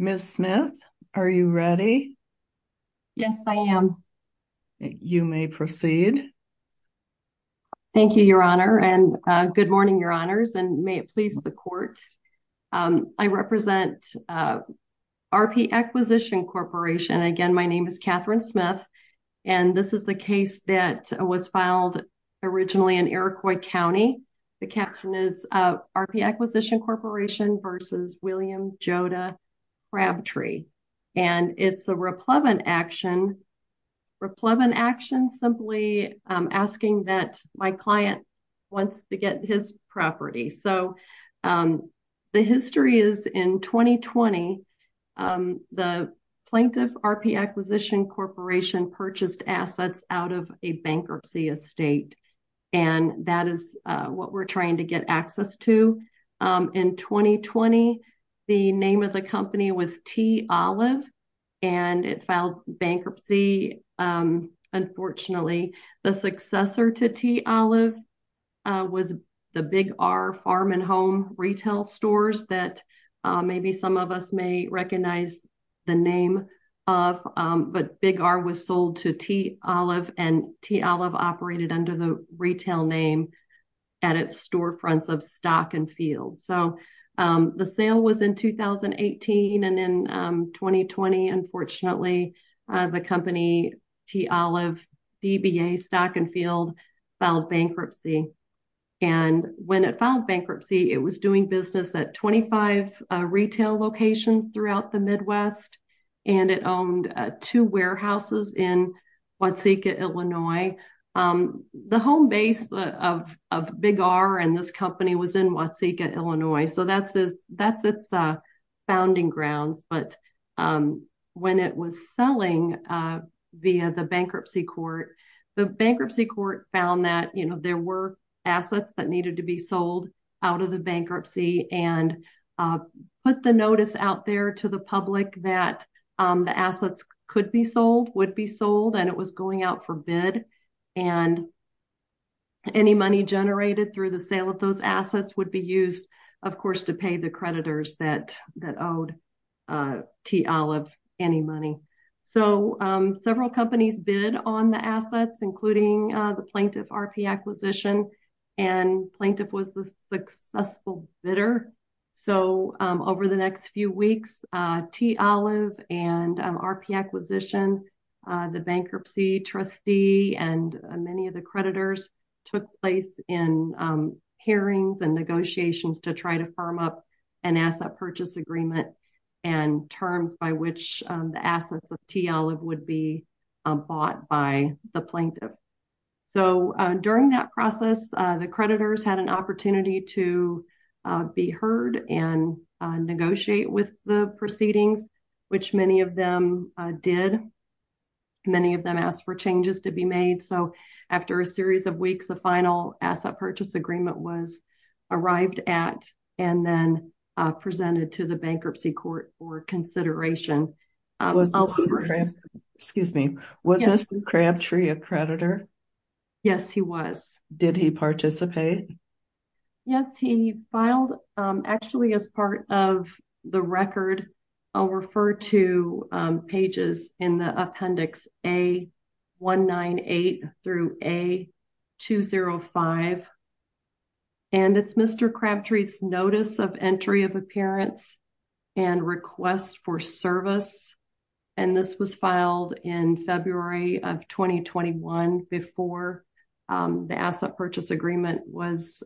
Ms. Smith, are you ready? Yes, I am. You may proceed. Thank you, Your Honor, and good morning, Your Honors, and may it please the Court. I represent R.P. Acquisition Corporation. Again, my name is Catherine Smith, and this is a case that was filed originally in Iroquois County. The caption is R.P. Acquisition Corporation v. William Joda Crabtree. And it's a replevant action, simply asking that my client wants to get his property. So, the history is, in 2020, the plaintiff, R.P. Acquisition Corporation, purchased assets out of a bankruptcy estate. And that is what we're trying to get access to. In 2020, the name of the company was T. Olive, and it filed bankruptcy, unfortunately. The successor to T. Olive was the Big R Farm and Home retail stores that maybe some of us may recognize the name of. But Big R was sold to T. Olive, and T. Olive operated under the retail name at its storefronts of Stock and Field. So, the sale was in 2018, and in 2020, unfortunately, the company T. Olive DBA Stock and Field filed bankruptcy. And when it filed bankruptcy, it was doing business at 25 retail locations throughout the Midwest. And it owned two warehouses in Watsika, Illinois. The home base of Big R and this company was in Watsika, Illinois. So, that's its founding grounds. But when it was selling via the bankruptcy court, the bankruptcy court found that there were assets that needed to be sold out of the bankruptcy. And put the notice out there to the public that the assets could be sold, would be sold, and it was going out for bid. And any money generated through the sale of those assets would be used, of course, to pay the creditors that owed T. Olive any money. So, several companies bid on the assets, including the Plaintiff RP Acquisition, and Plaintiff was the successful bidder. So, over the next few weeks, T. Olive and RP Acquisition, the bankruptcy trustee, and many of the creditors, took place in hearings and negotiations to try to firm up an asset purchase agreement and terms by which the assets of T. Olive would be bought by the Plaintiff. So, during that process, the creditors had an opportunity to be heard and negotiate with the proceedings, which many of them did. Many of them asked for changes to be made. So, after a series of weeks, the final asset purchase agreement was arrived at and then presented to the bankruptcy court for consideration. Was Mr. Crabtree a creditor? Yes, he was. Did he participate? Yes, he filed actually as part of the record. I'll refer to pages in the appendix A198 through A205. And it's Mr. Crabtree's notice of entry of appearance and request for service. And this was filed in February of 2021 before the asset purchase agreement was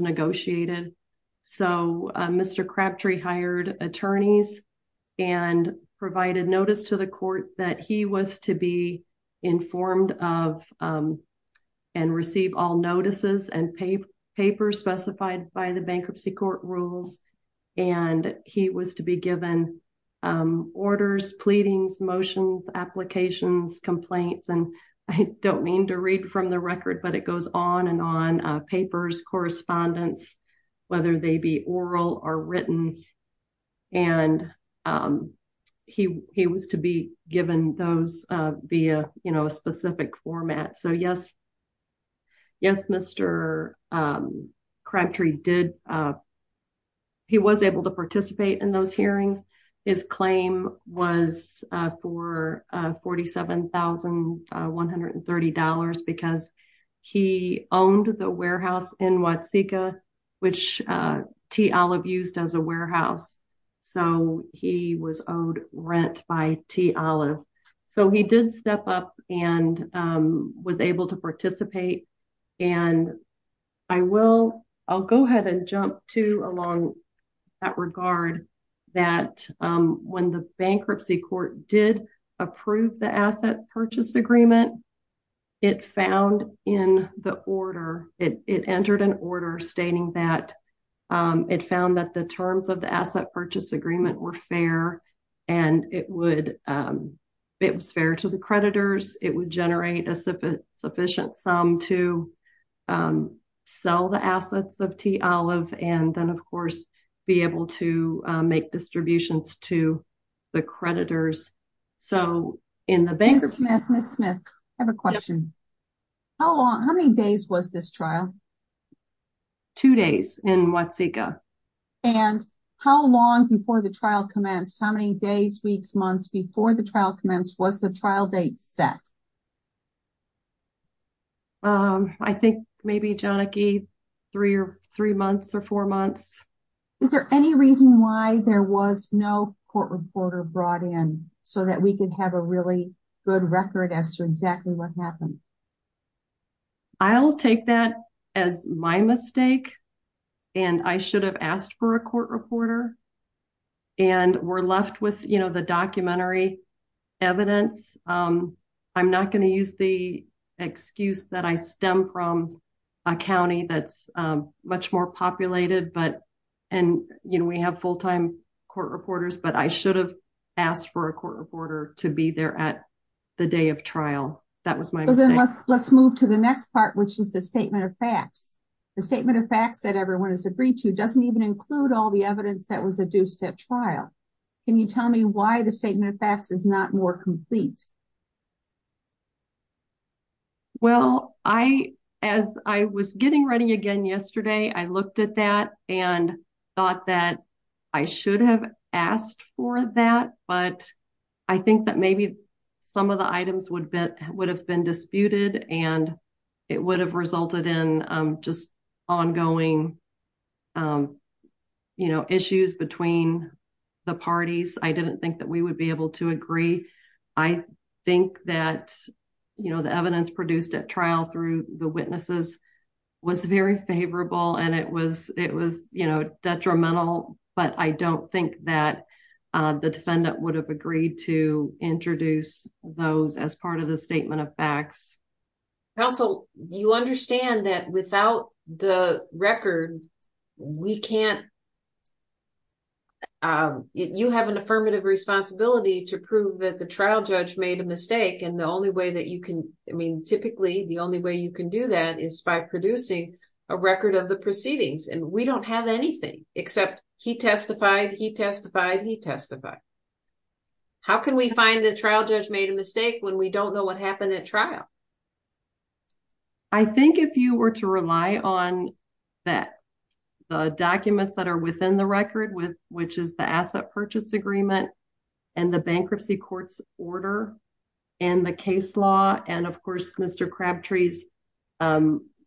negotiated. So, Mr. Crabtree hired attorneys and provided notice to the court that he was to be informed of and receive all notices and papers specified by the bankruptcy court rules. And he was to be given orders, pleadings, motions, applications, complaints. And I don't mean to read from the record, but it goes on and on. Papers, correspondence, whether they be oral or written. And he was to be given those via a specific format. So, yes, Mr. Crabtree was able to participate in those hearings. His claim was for $47,130 because he owned the warehouse in Watsika, which T. Olive used as a warehouse. So, he was owed rent by T. Olive. So, he did step up and was able to participate. And I will, I'll go ahead and jump to along that regard that when the bankruptcy court did approve the asset purchase agreement, it found in the order. It entered an order stating that it found that the terms of the asset purchase agreement were fair and it would, it was fair to the creditors. It would generate a sufficient sum to sell the assets of T. Olive and then, of course, be able to make distributions to the creditors. So, in the bankruptcy. Ms. Smith, Ms. Smith, I have a question. Yes. How long, how many days was this trial? Two days in Watsika. And how long before the trial commenced? How many days, weeks, months before the trial commenced was the trial date set? I think maybe, John, three months or four months. Is there any reason why there was no court reporter brought in so that we could have a really good record as to exactly what happened? I'll take that as my mistake. And I should have asked for a court reporter. And we're left with, you know, the documentary evidence. I'm not going to use the excuse that I stem from a county that's much more populated. And, you know, we have full-time court reporters, but I should have asked for a court reporter to be there at the day of trial. That was my mistake. Let's move to the next part, which is the statement of facts. The statement of facts that everyone has agreed to doesn't even include all the evidence that was adduced at trial. Can you tell me why the statement of facts is not more complete? Well, as I was getting ready again yesterday, I looked at that and thought that I should have asked for that. But I think that maybe some of the items would have been disputed and it would have resulted in just ongoing, you know, issues between the parties. I didn't think that we would be able to agree. I think that, you know, the evidence produced at trial through the witnesses was very favorable and it was, you know, detrimental. But I don't think that the defendant would have agreed to introduce those as part of the statement of facts. Counsel, you understand that without the record, we can't, you have an affirmative responsibility to prove that the trial judge made a mistake. And the only way that you can, I mean, typically the only way you can do that is by producing a record of the proceedings. And we don't have anything except he testified, he testified, he testified. How can we find the trial judge made a mistake when we don't know what happened at trial? I think if you were to rely on that, the documents that are within the record, which is the asset purchase agreement and the bankruptcy court's order and the case law. And of course, Mr. Crabtree's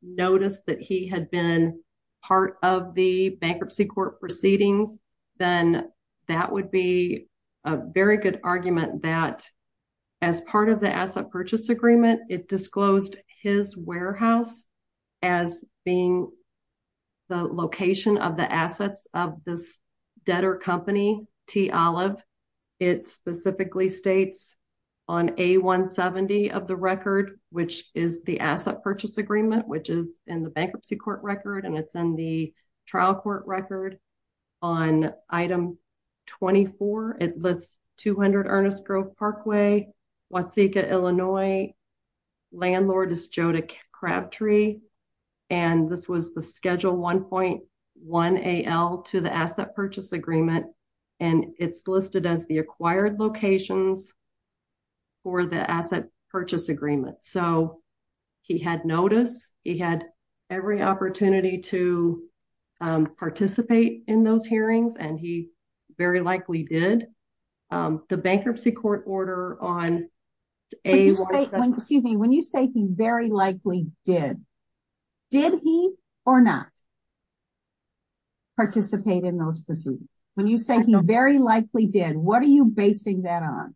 noticed that he had been part of the bankruptcy court proceedings. Then that would be a very good argument that as part of the asset purchase agreement, it disclosed his warehouse as being the location of the assets of this debtor company, T Olive. It specifically states on A170 of the record, which is the asset purchase agreement, which is in the bankruptcy court record. And it's in the trial court record on item 24. It lists 200 Ernest Grove Parkway, Wauseka, Illinois. Landlord is Joda Crabtree. And this was the schedule 1.1 AL to the asset purchase agreement. And it's listed as the acquired locations for the asset purchase agreement. So he had notice he had every opportunity to participate in those hearings. And he very likely did the bankruptcy court order on a when you say he very likely did. Did he or not participate in those proceedings? When you say no, very likely did. What are you basing that on?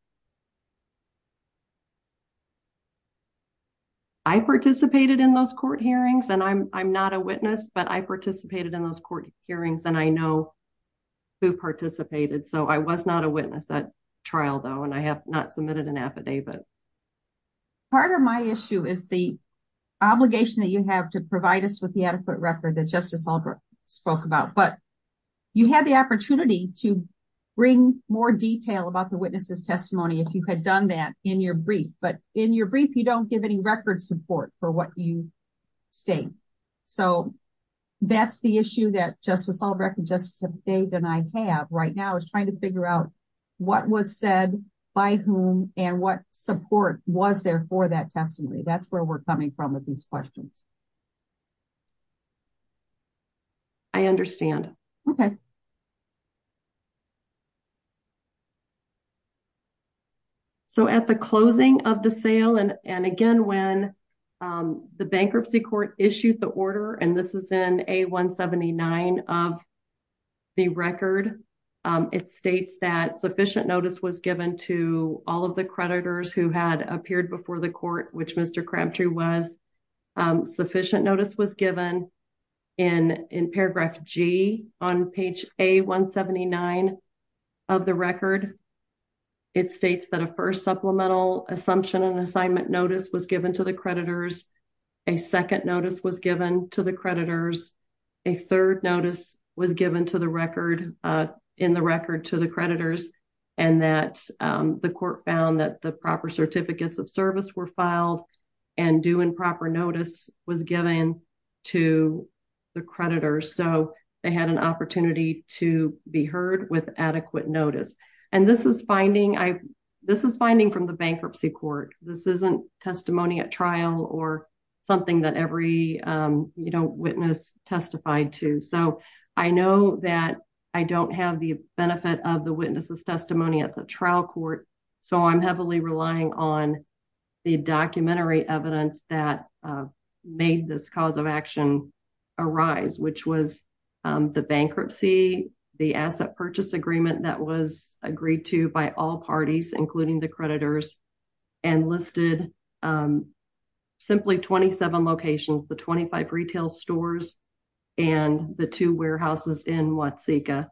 I participated in those court hearings and I'm not a witness, but I participated in those court hearings and I know who participated. So I was not a witness at trial, though, and I have not submitted an affidavit. Part of my issue is the obligation that you have to provide us with the adequate record that justice spoke about. But you had the opportunity to bring more detail about the witness's testimony if you had done that in your brief. But in your brief, you don't give any record support for what you state. So that's the issue that Justice Albrecht and Justice Dave and I have right now is trying to figure out what was said by whom and what support was there for that testimony. That's where we're coming from with these questions. I understand. So, at the closing of the sale and and again, when the bankruptcy court issued the order, and this is in a 179 of. The record, it states that sufficient notice was given to all of the creditors who had appeared before the court, which Mr. Crabtree was sufficient notice was given in in paragraph G on page a 179 of the record. It states that a 1st supplemental assumption and assignment notice was given to the creditors. A 2nd notice was given to the creditors. A 3rd notice was given to the record in the record to the creditors, and that the court found that the proper certificates of service were filed and due and proper notice was given to the creditors. So, they had an opportunity to be heard with adequate notice. And this is finding I, this is finding from the bankruptcy court, this isn't testimony at trial or something that every, you know, witness testified to so I know that I don't have the benefit of the witnesses testimony at the trial court. So, I'm heavily relying on the documentary evidence that made this cause of action arise, which was the bankruptcy, the asset purchase agreement that was agreed to by all parties, including the creditors and listed. Simply 27 locations, the 25 retail stores, and the 2 warehouses in what Sika,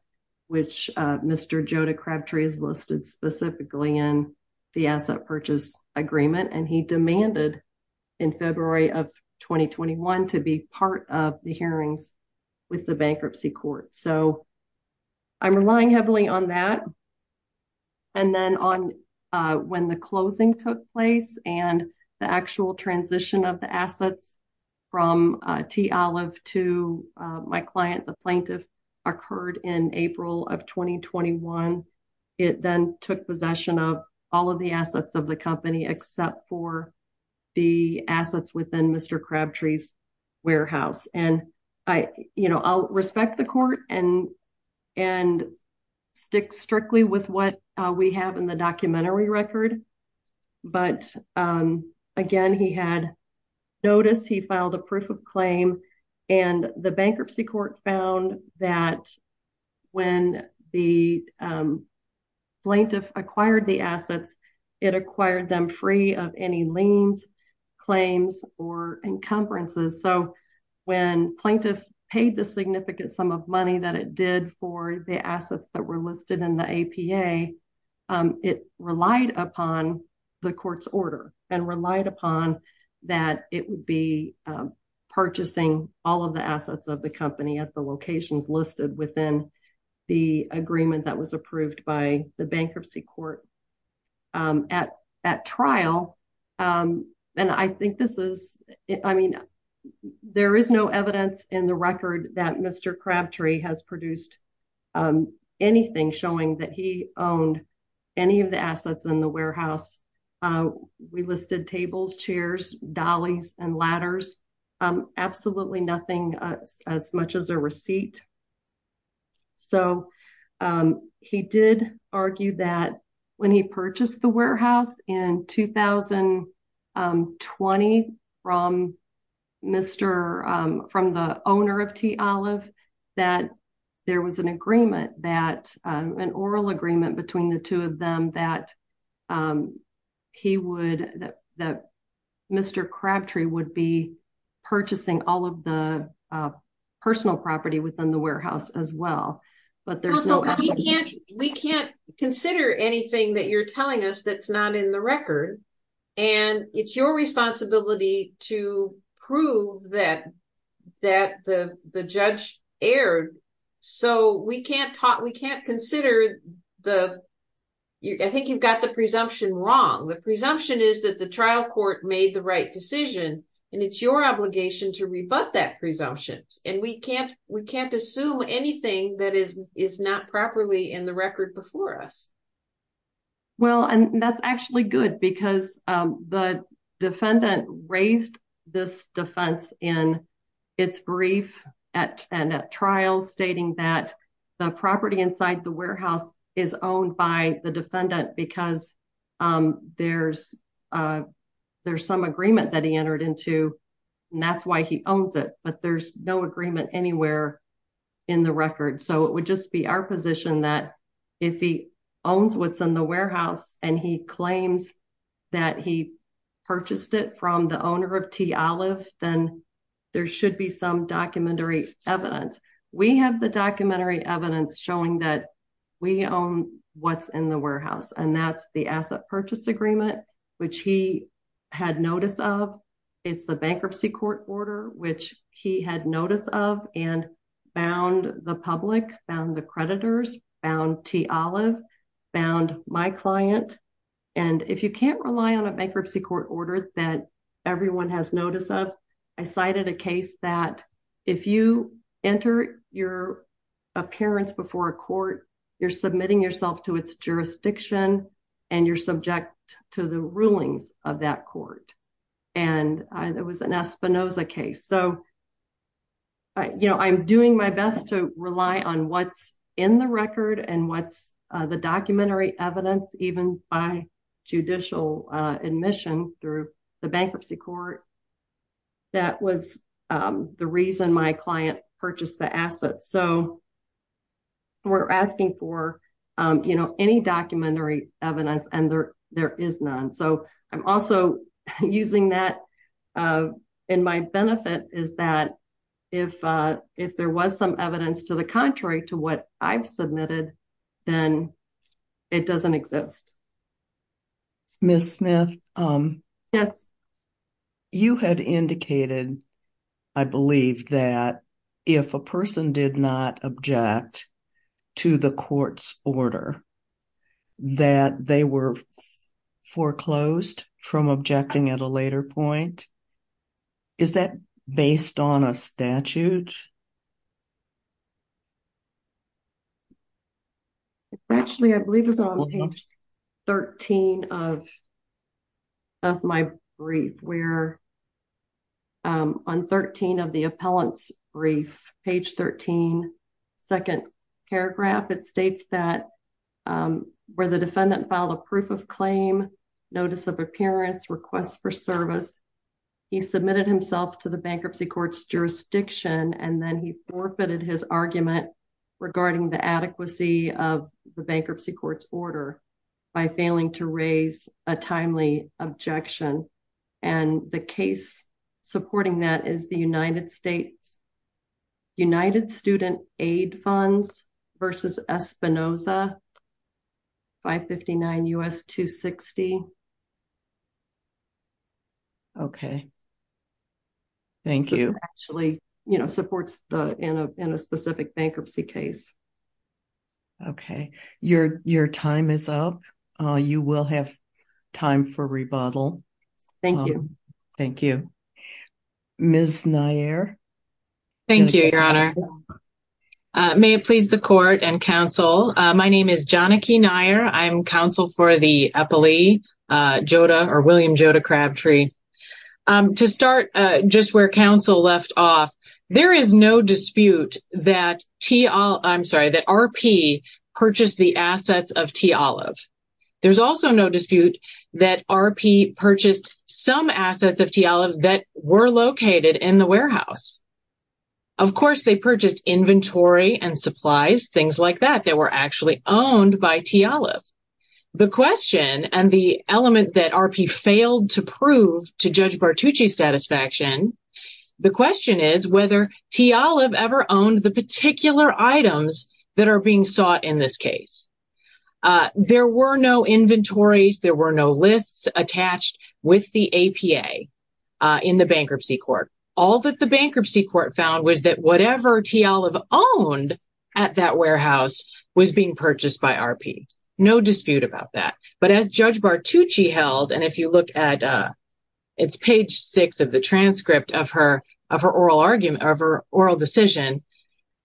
which Mr. Joe to Crabtree is listed specifically in the asset purchase agreement and he demanded in February of 2021 to be part of the hearings with the bankruptcy court. So, I'm relying heavily on that. And then on when the closing took place, and the actual transition of the assets from to my client, the plaintiff occurred in April of 2021. It then took possession of all of the assets of the company, except for the assets within Mr. Crabtree's warehouse, and I, you know, I'll respect the court and, and stick strictly with what we have in the documentary record. But, again, he had noticed he filed a proof of claim, and the bankruptcy court found that when the plaintiff acquired the assets, it acquired them free of any liens claims or encumbrances so when plaintiff paid the significant sum of money that it did for the assets that were listed in the APA. It relied upon the court's order and relied upon that it would be purchasing all of the assets of the company at the locations listed within the agreement that was approved by the bankruptcy court at at trial. And I think this is, I mean, there is no evidence in the record that Mr Crabtree has produced anything showing that he owned any of the assets in the warehouse. We listed tables chairs dollies and ladders. Absolutely nothing as much as a receipt. So, he did argue that when he purchased the warehouse in 2020 from Mr. owner of tea olive, that there was an agreement that an oral agreement between the two of them that he would that Mr Crabtree would be purchasing all of the personal property within the warehouse as well. But there's no, we can't, we can't consider anything that you're telling us that's not in the record. And it's your responsibility to prove that that the, the judge aired. So we can't talk we can't consider the. I think you've got the presumption wrong the presumption is that the trial court made the right decision, and it's your obligation to rebut that presumptions, and we can't, we can't assume anything that is, is not properly in the record before us. Well, and that's actually good because the defendant raised this defense in its brief at, and at trial stating that the property inside the warehouse is owned by the defendant because there's, there's some agreement that he entered into. And that's why he owns it, but there's no agreement anywhere in the record so it would just be our position that if he owns what's in the warehouse, and he claims that he purchased it from the owner of tea olive, then there should be some documentary evidence. We have the documentary evidence showing that we own what's in the warehouse and that's the asset purchase agreement, which he had notice of. It's the bankruptcy court order, which he had notice of and bound the public found the creditors found tea olive found my client. And if you can't rely on a bankruptcy court order that everyone has notice of, I cited a case that if you enter your appearance before a court, you're submitting yourself to its jurisdiction, and you're subject to the rulings of that court. And it was an Espinoza case so you know I'm doing my best to rely on what's in the record and what's the documentary evidence, even by judicial admission through the bankruptcy court. That was the reason my client purchased the assets so we're asking for, you know, any documentary evidence and there, there is none so I'm also using that in my benefit is that if, if there was some evidence to the contrary to what I've submitted, then it doesn't exist. Miss Smith. Yes. You had indicated. I believe that if a person did not object to the courts order that they were foreclosed from objecting at a later point. Is that based on a statute. Actually I believe is on page 13 of my brief where on 13 of the appellants brief page 13. Second paragraph it states that where the defendant filed a proof of claim notice of appearance requests for service. He submitted himself to the bankruptcy courts jurisdiction and then he forfeited his argument regarding the adequacy of the bankruptcy courts order by failing to raise a timely objection. And the case, supporting that is the United States, United student aid funds versus Espinosa 559 us to 60. Okay. Thank you. Actually, you know supports the in a specific bankruptcy case. Okay. Your, your time is up. You will have time for rebuttal. Thank you. Thank you. Miss Nair. Thank you. Your honor. May it please the court and counsel. My name is Johnny K. Nair. I'm counsel for the Jodah or William Jodah crab tree to start just where counsel left off. There is no dispute that T. I'm sorry that R. P. Purchased the assets of T. Olive. There's also no dispute that R. P. Purchased some assets of T. Olive that were located in the warehouse. Of course, they purchased inventory and supplies, things like that. They were actually owned by T. Olive. The question and the element that R. P. Failed to prove to judge Bartucci satisfaction. The question is whether T. Olive ever owned the particular items that are being sought in this case. There were no inventories. There were no lists attached with the APA in the bankruptcy court. All that the bankruptcy court found was that whatever T. Olive owned at that warehouse was being purchased by R. P. No dispute about that. But as judge Bartucci held, and if you look at. It's page six of the transcript of her of her oral argument of her oral decision.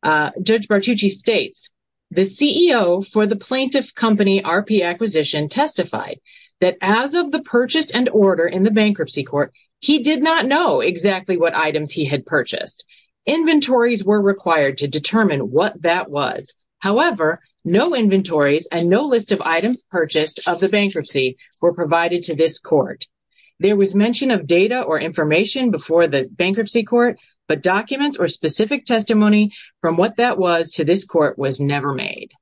Judge Bartucci states the CEO for the plaintiff company R. P. Acquisition testified that as of the purchase and order in the bankruptcy court, he did not know exactly what items he had purchased. Inventories were required to determine what that was. However, no inventories and no list of items purchased of the bankruptcy were provided to this court. There was mention of data or information before the bankruptcy court, but documents or specific testimony from what that was to this court was never made.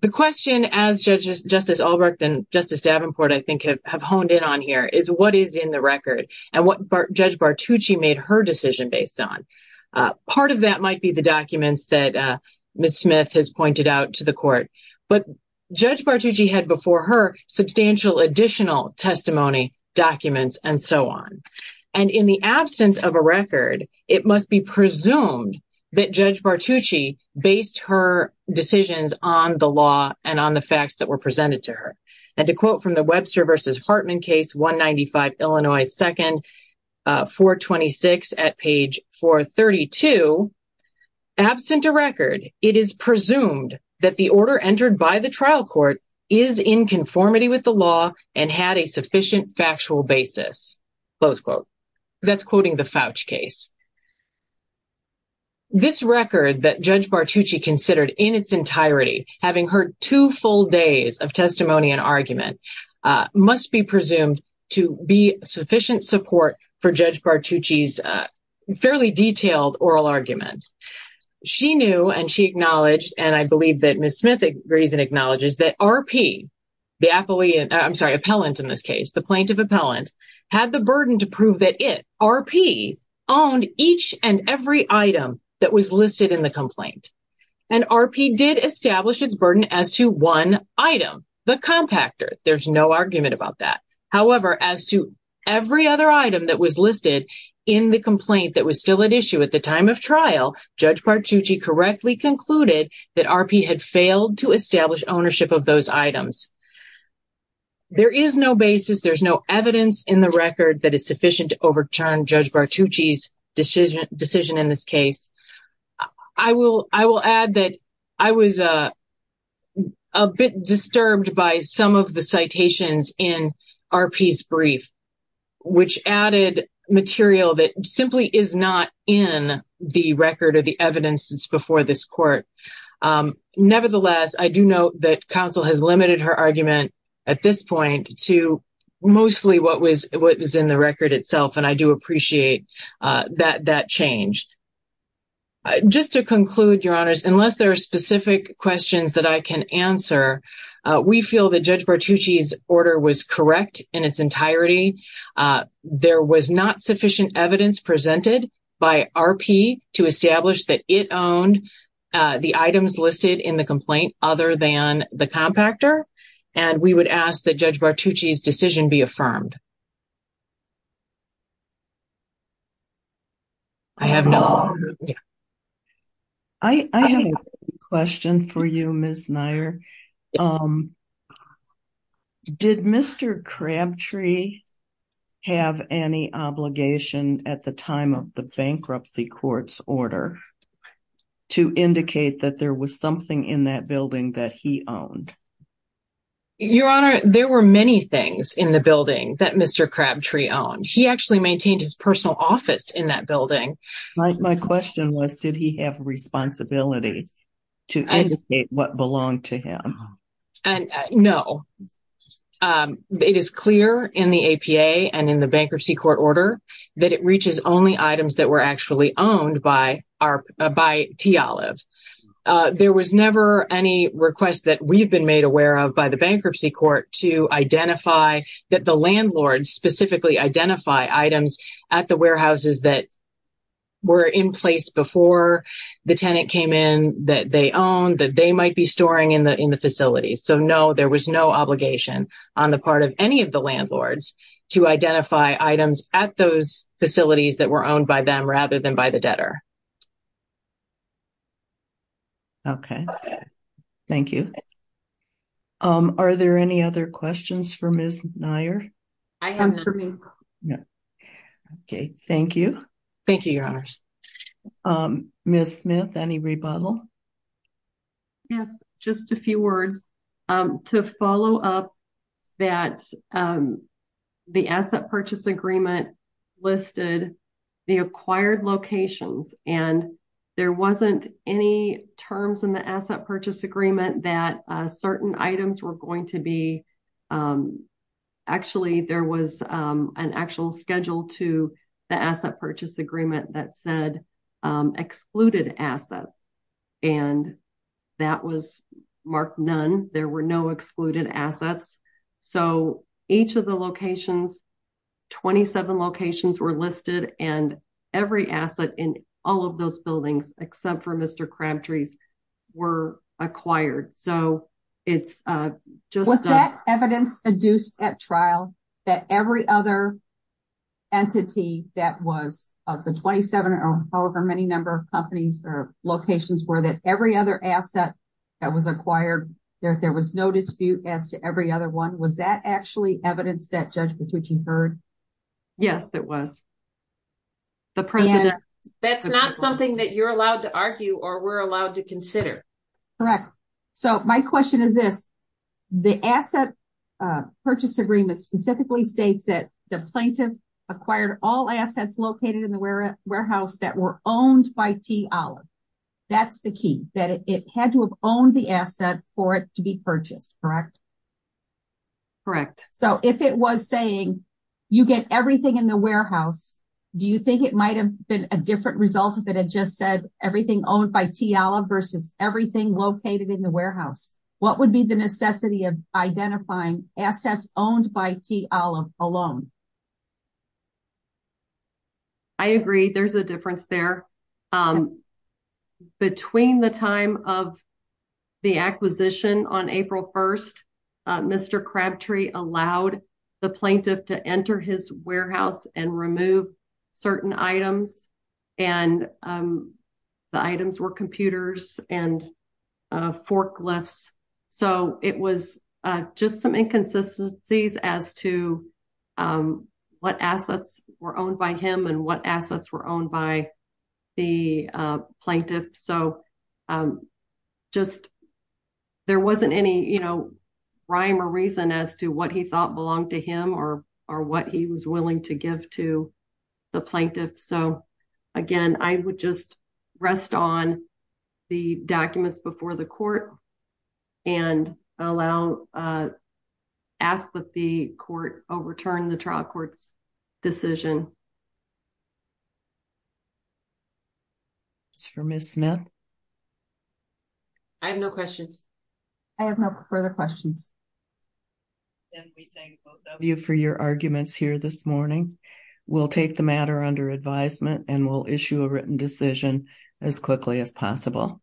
The question as judges, Justice Albrecht and Justice Davenport, I think have honed in on here is what is in the record and what judge Bartucci made her decision based on. Part of that might be the documents that Miss Smith has pointed out to the court. But judge Bartucci had before her substantial additional testimony documents and so on. And in the absence of a record, it must be presumed that judge Bartucci based her decisions on the law and on the facts that were presented to her. And to quote from the Webster versus Hartman case, one 95 Illinois second four 26 at page four 32, absent a record. It is presumed that the order entered by the trial court is in conformity with the law and had a sufficient factual basis. Close quote. That's quoting the Fouch case. This record that judge Bartucci considered in its entirety, having heard two full days of testimony and argument, must be presumed to be sufficient support for judge Bartucci's fairly detailed oral argument. She knew and she acknowledged, and I believe that Miss Smith agrees and acknowledges that RP, the appellate, I'm sorry, appellant in this case, the plaintiff appellant had the burden to prove that it, RP owned each and every item that was listed in the complaint. And RP did establish its burden as to one item, the compactor. There's no argument about that. However, as to every other item that was listed in the complaint that was still at issue at the time of trial, judge Bartucci correctly concluded that RP had failed to establish ownership of those items. There is no basis. There's no evidence in the record that is sufficient to overturn judge Bartucci's decision in this case. I will, I will add that I was a bit disturbed by some of the citations in RP's I do note that counsel has limited her argument at this point to mostly what was in the record itself. And I do appreciate that, that change just to conclude your honors, unless there are specific questions that I can answer. We feel that judge Bartucci's order was correct in its entirety. There was not sufficient evidence presented by RP to establish that it owned the items listed in the complaint, other than the compactor. And we would ask that judge Bartucci's decision be affirmed. I have no, I have a question for you, Ms. Neier. Did Mr. Crabtree have any obligation at the time of the bankruptcy courts order to indicate that there was something in that building that he owned? Your honor, there were many things in the building that Mr. Crabtree owned. He actually maintained his personal office in that building. My question was, did he have responsibility to indicate what belonged to him? No. It is clear in the APA and in the bankruptcy court order that it reaches only items that were actually owned by T. Olive. There was never any request that we've been made aware of by the bankruptcy court to identify that the landlord specifically identify items at the facility. So, there was no obligation on the part of any of the landlords to identify items at those facilities that were owned by them rather than by the debtor. Okay. Thank you. Are there any other questions for Ms. Neier? I am for me. Yeah. Okay. Thank you. Thank you, your honors. Ms. Smith, any rebuttal? Yes, just a few words to follow up that the asset purchase agreement listed the acquired locations. And there wasn't any terms in the asset purchase agreement that certain items were going to be. Actually, there was an actual schedule to the asset purchase agreement that said there were no. Excluded assets. And that was Mark. None. There were no excluded assets. So each of the locations. 27 locations were listed and every asset in all of those buildings, except for Mr. Crabtree. Were acquired. So it's just that evidence induced at trial that every other. Entity that was of the 27 or however, many number of companies or locations were that every other asset. That was acquired there. There was no dispute as to every other one. Was that actually evidence that judgment, which you've heard? Yes, it was. The president. That's not something that you're allowed to argue or we're allowed to consider. Correct. So my question is this. The asset. Purchase agreement specifically states that the plaintiff. Acquired all assets located in the warehouse that were owned by T. Olive. That's the key that it had to have owned the asset for it to be purchased. Correct. Correct. So if it was saying. You get everything in the warehouse. Do you think it might've been a different result of it? It just said everything owned by T. Olive versus everything located in the warehouse. I agree. There's a difference there. Between the time of. The acquisition on April 1st. Mr. Crabtree allowed. The plaintiff to enter his warehouse and remove. Certain items. And the items were computers and. And. Forklifts. So it was just some inconsistencies as to. What assets were owned by him and what assets were owned by. The plaintiff. So. Just. There wasn't any. Rhyme or reason as to what he thought belonged to him or, or what he was willing to give to. The plaintiff. So again, I would just. Rest on the documents before the court. And allow. Ask that the court overturned the trial courts. Decision. I have no questions. I have no further questions. Thank you for your arguments here this morning. We'll take the matter under advisement and we'll issue a written decision. As quickly as possible.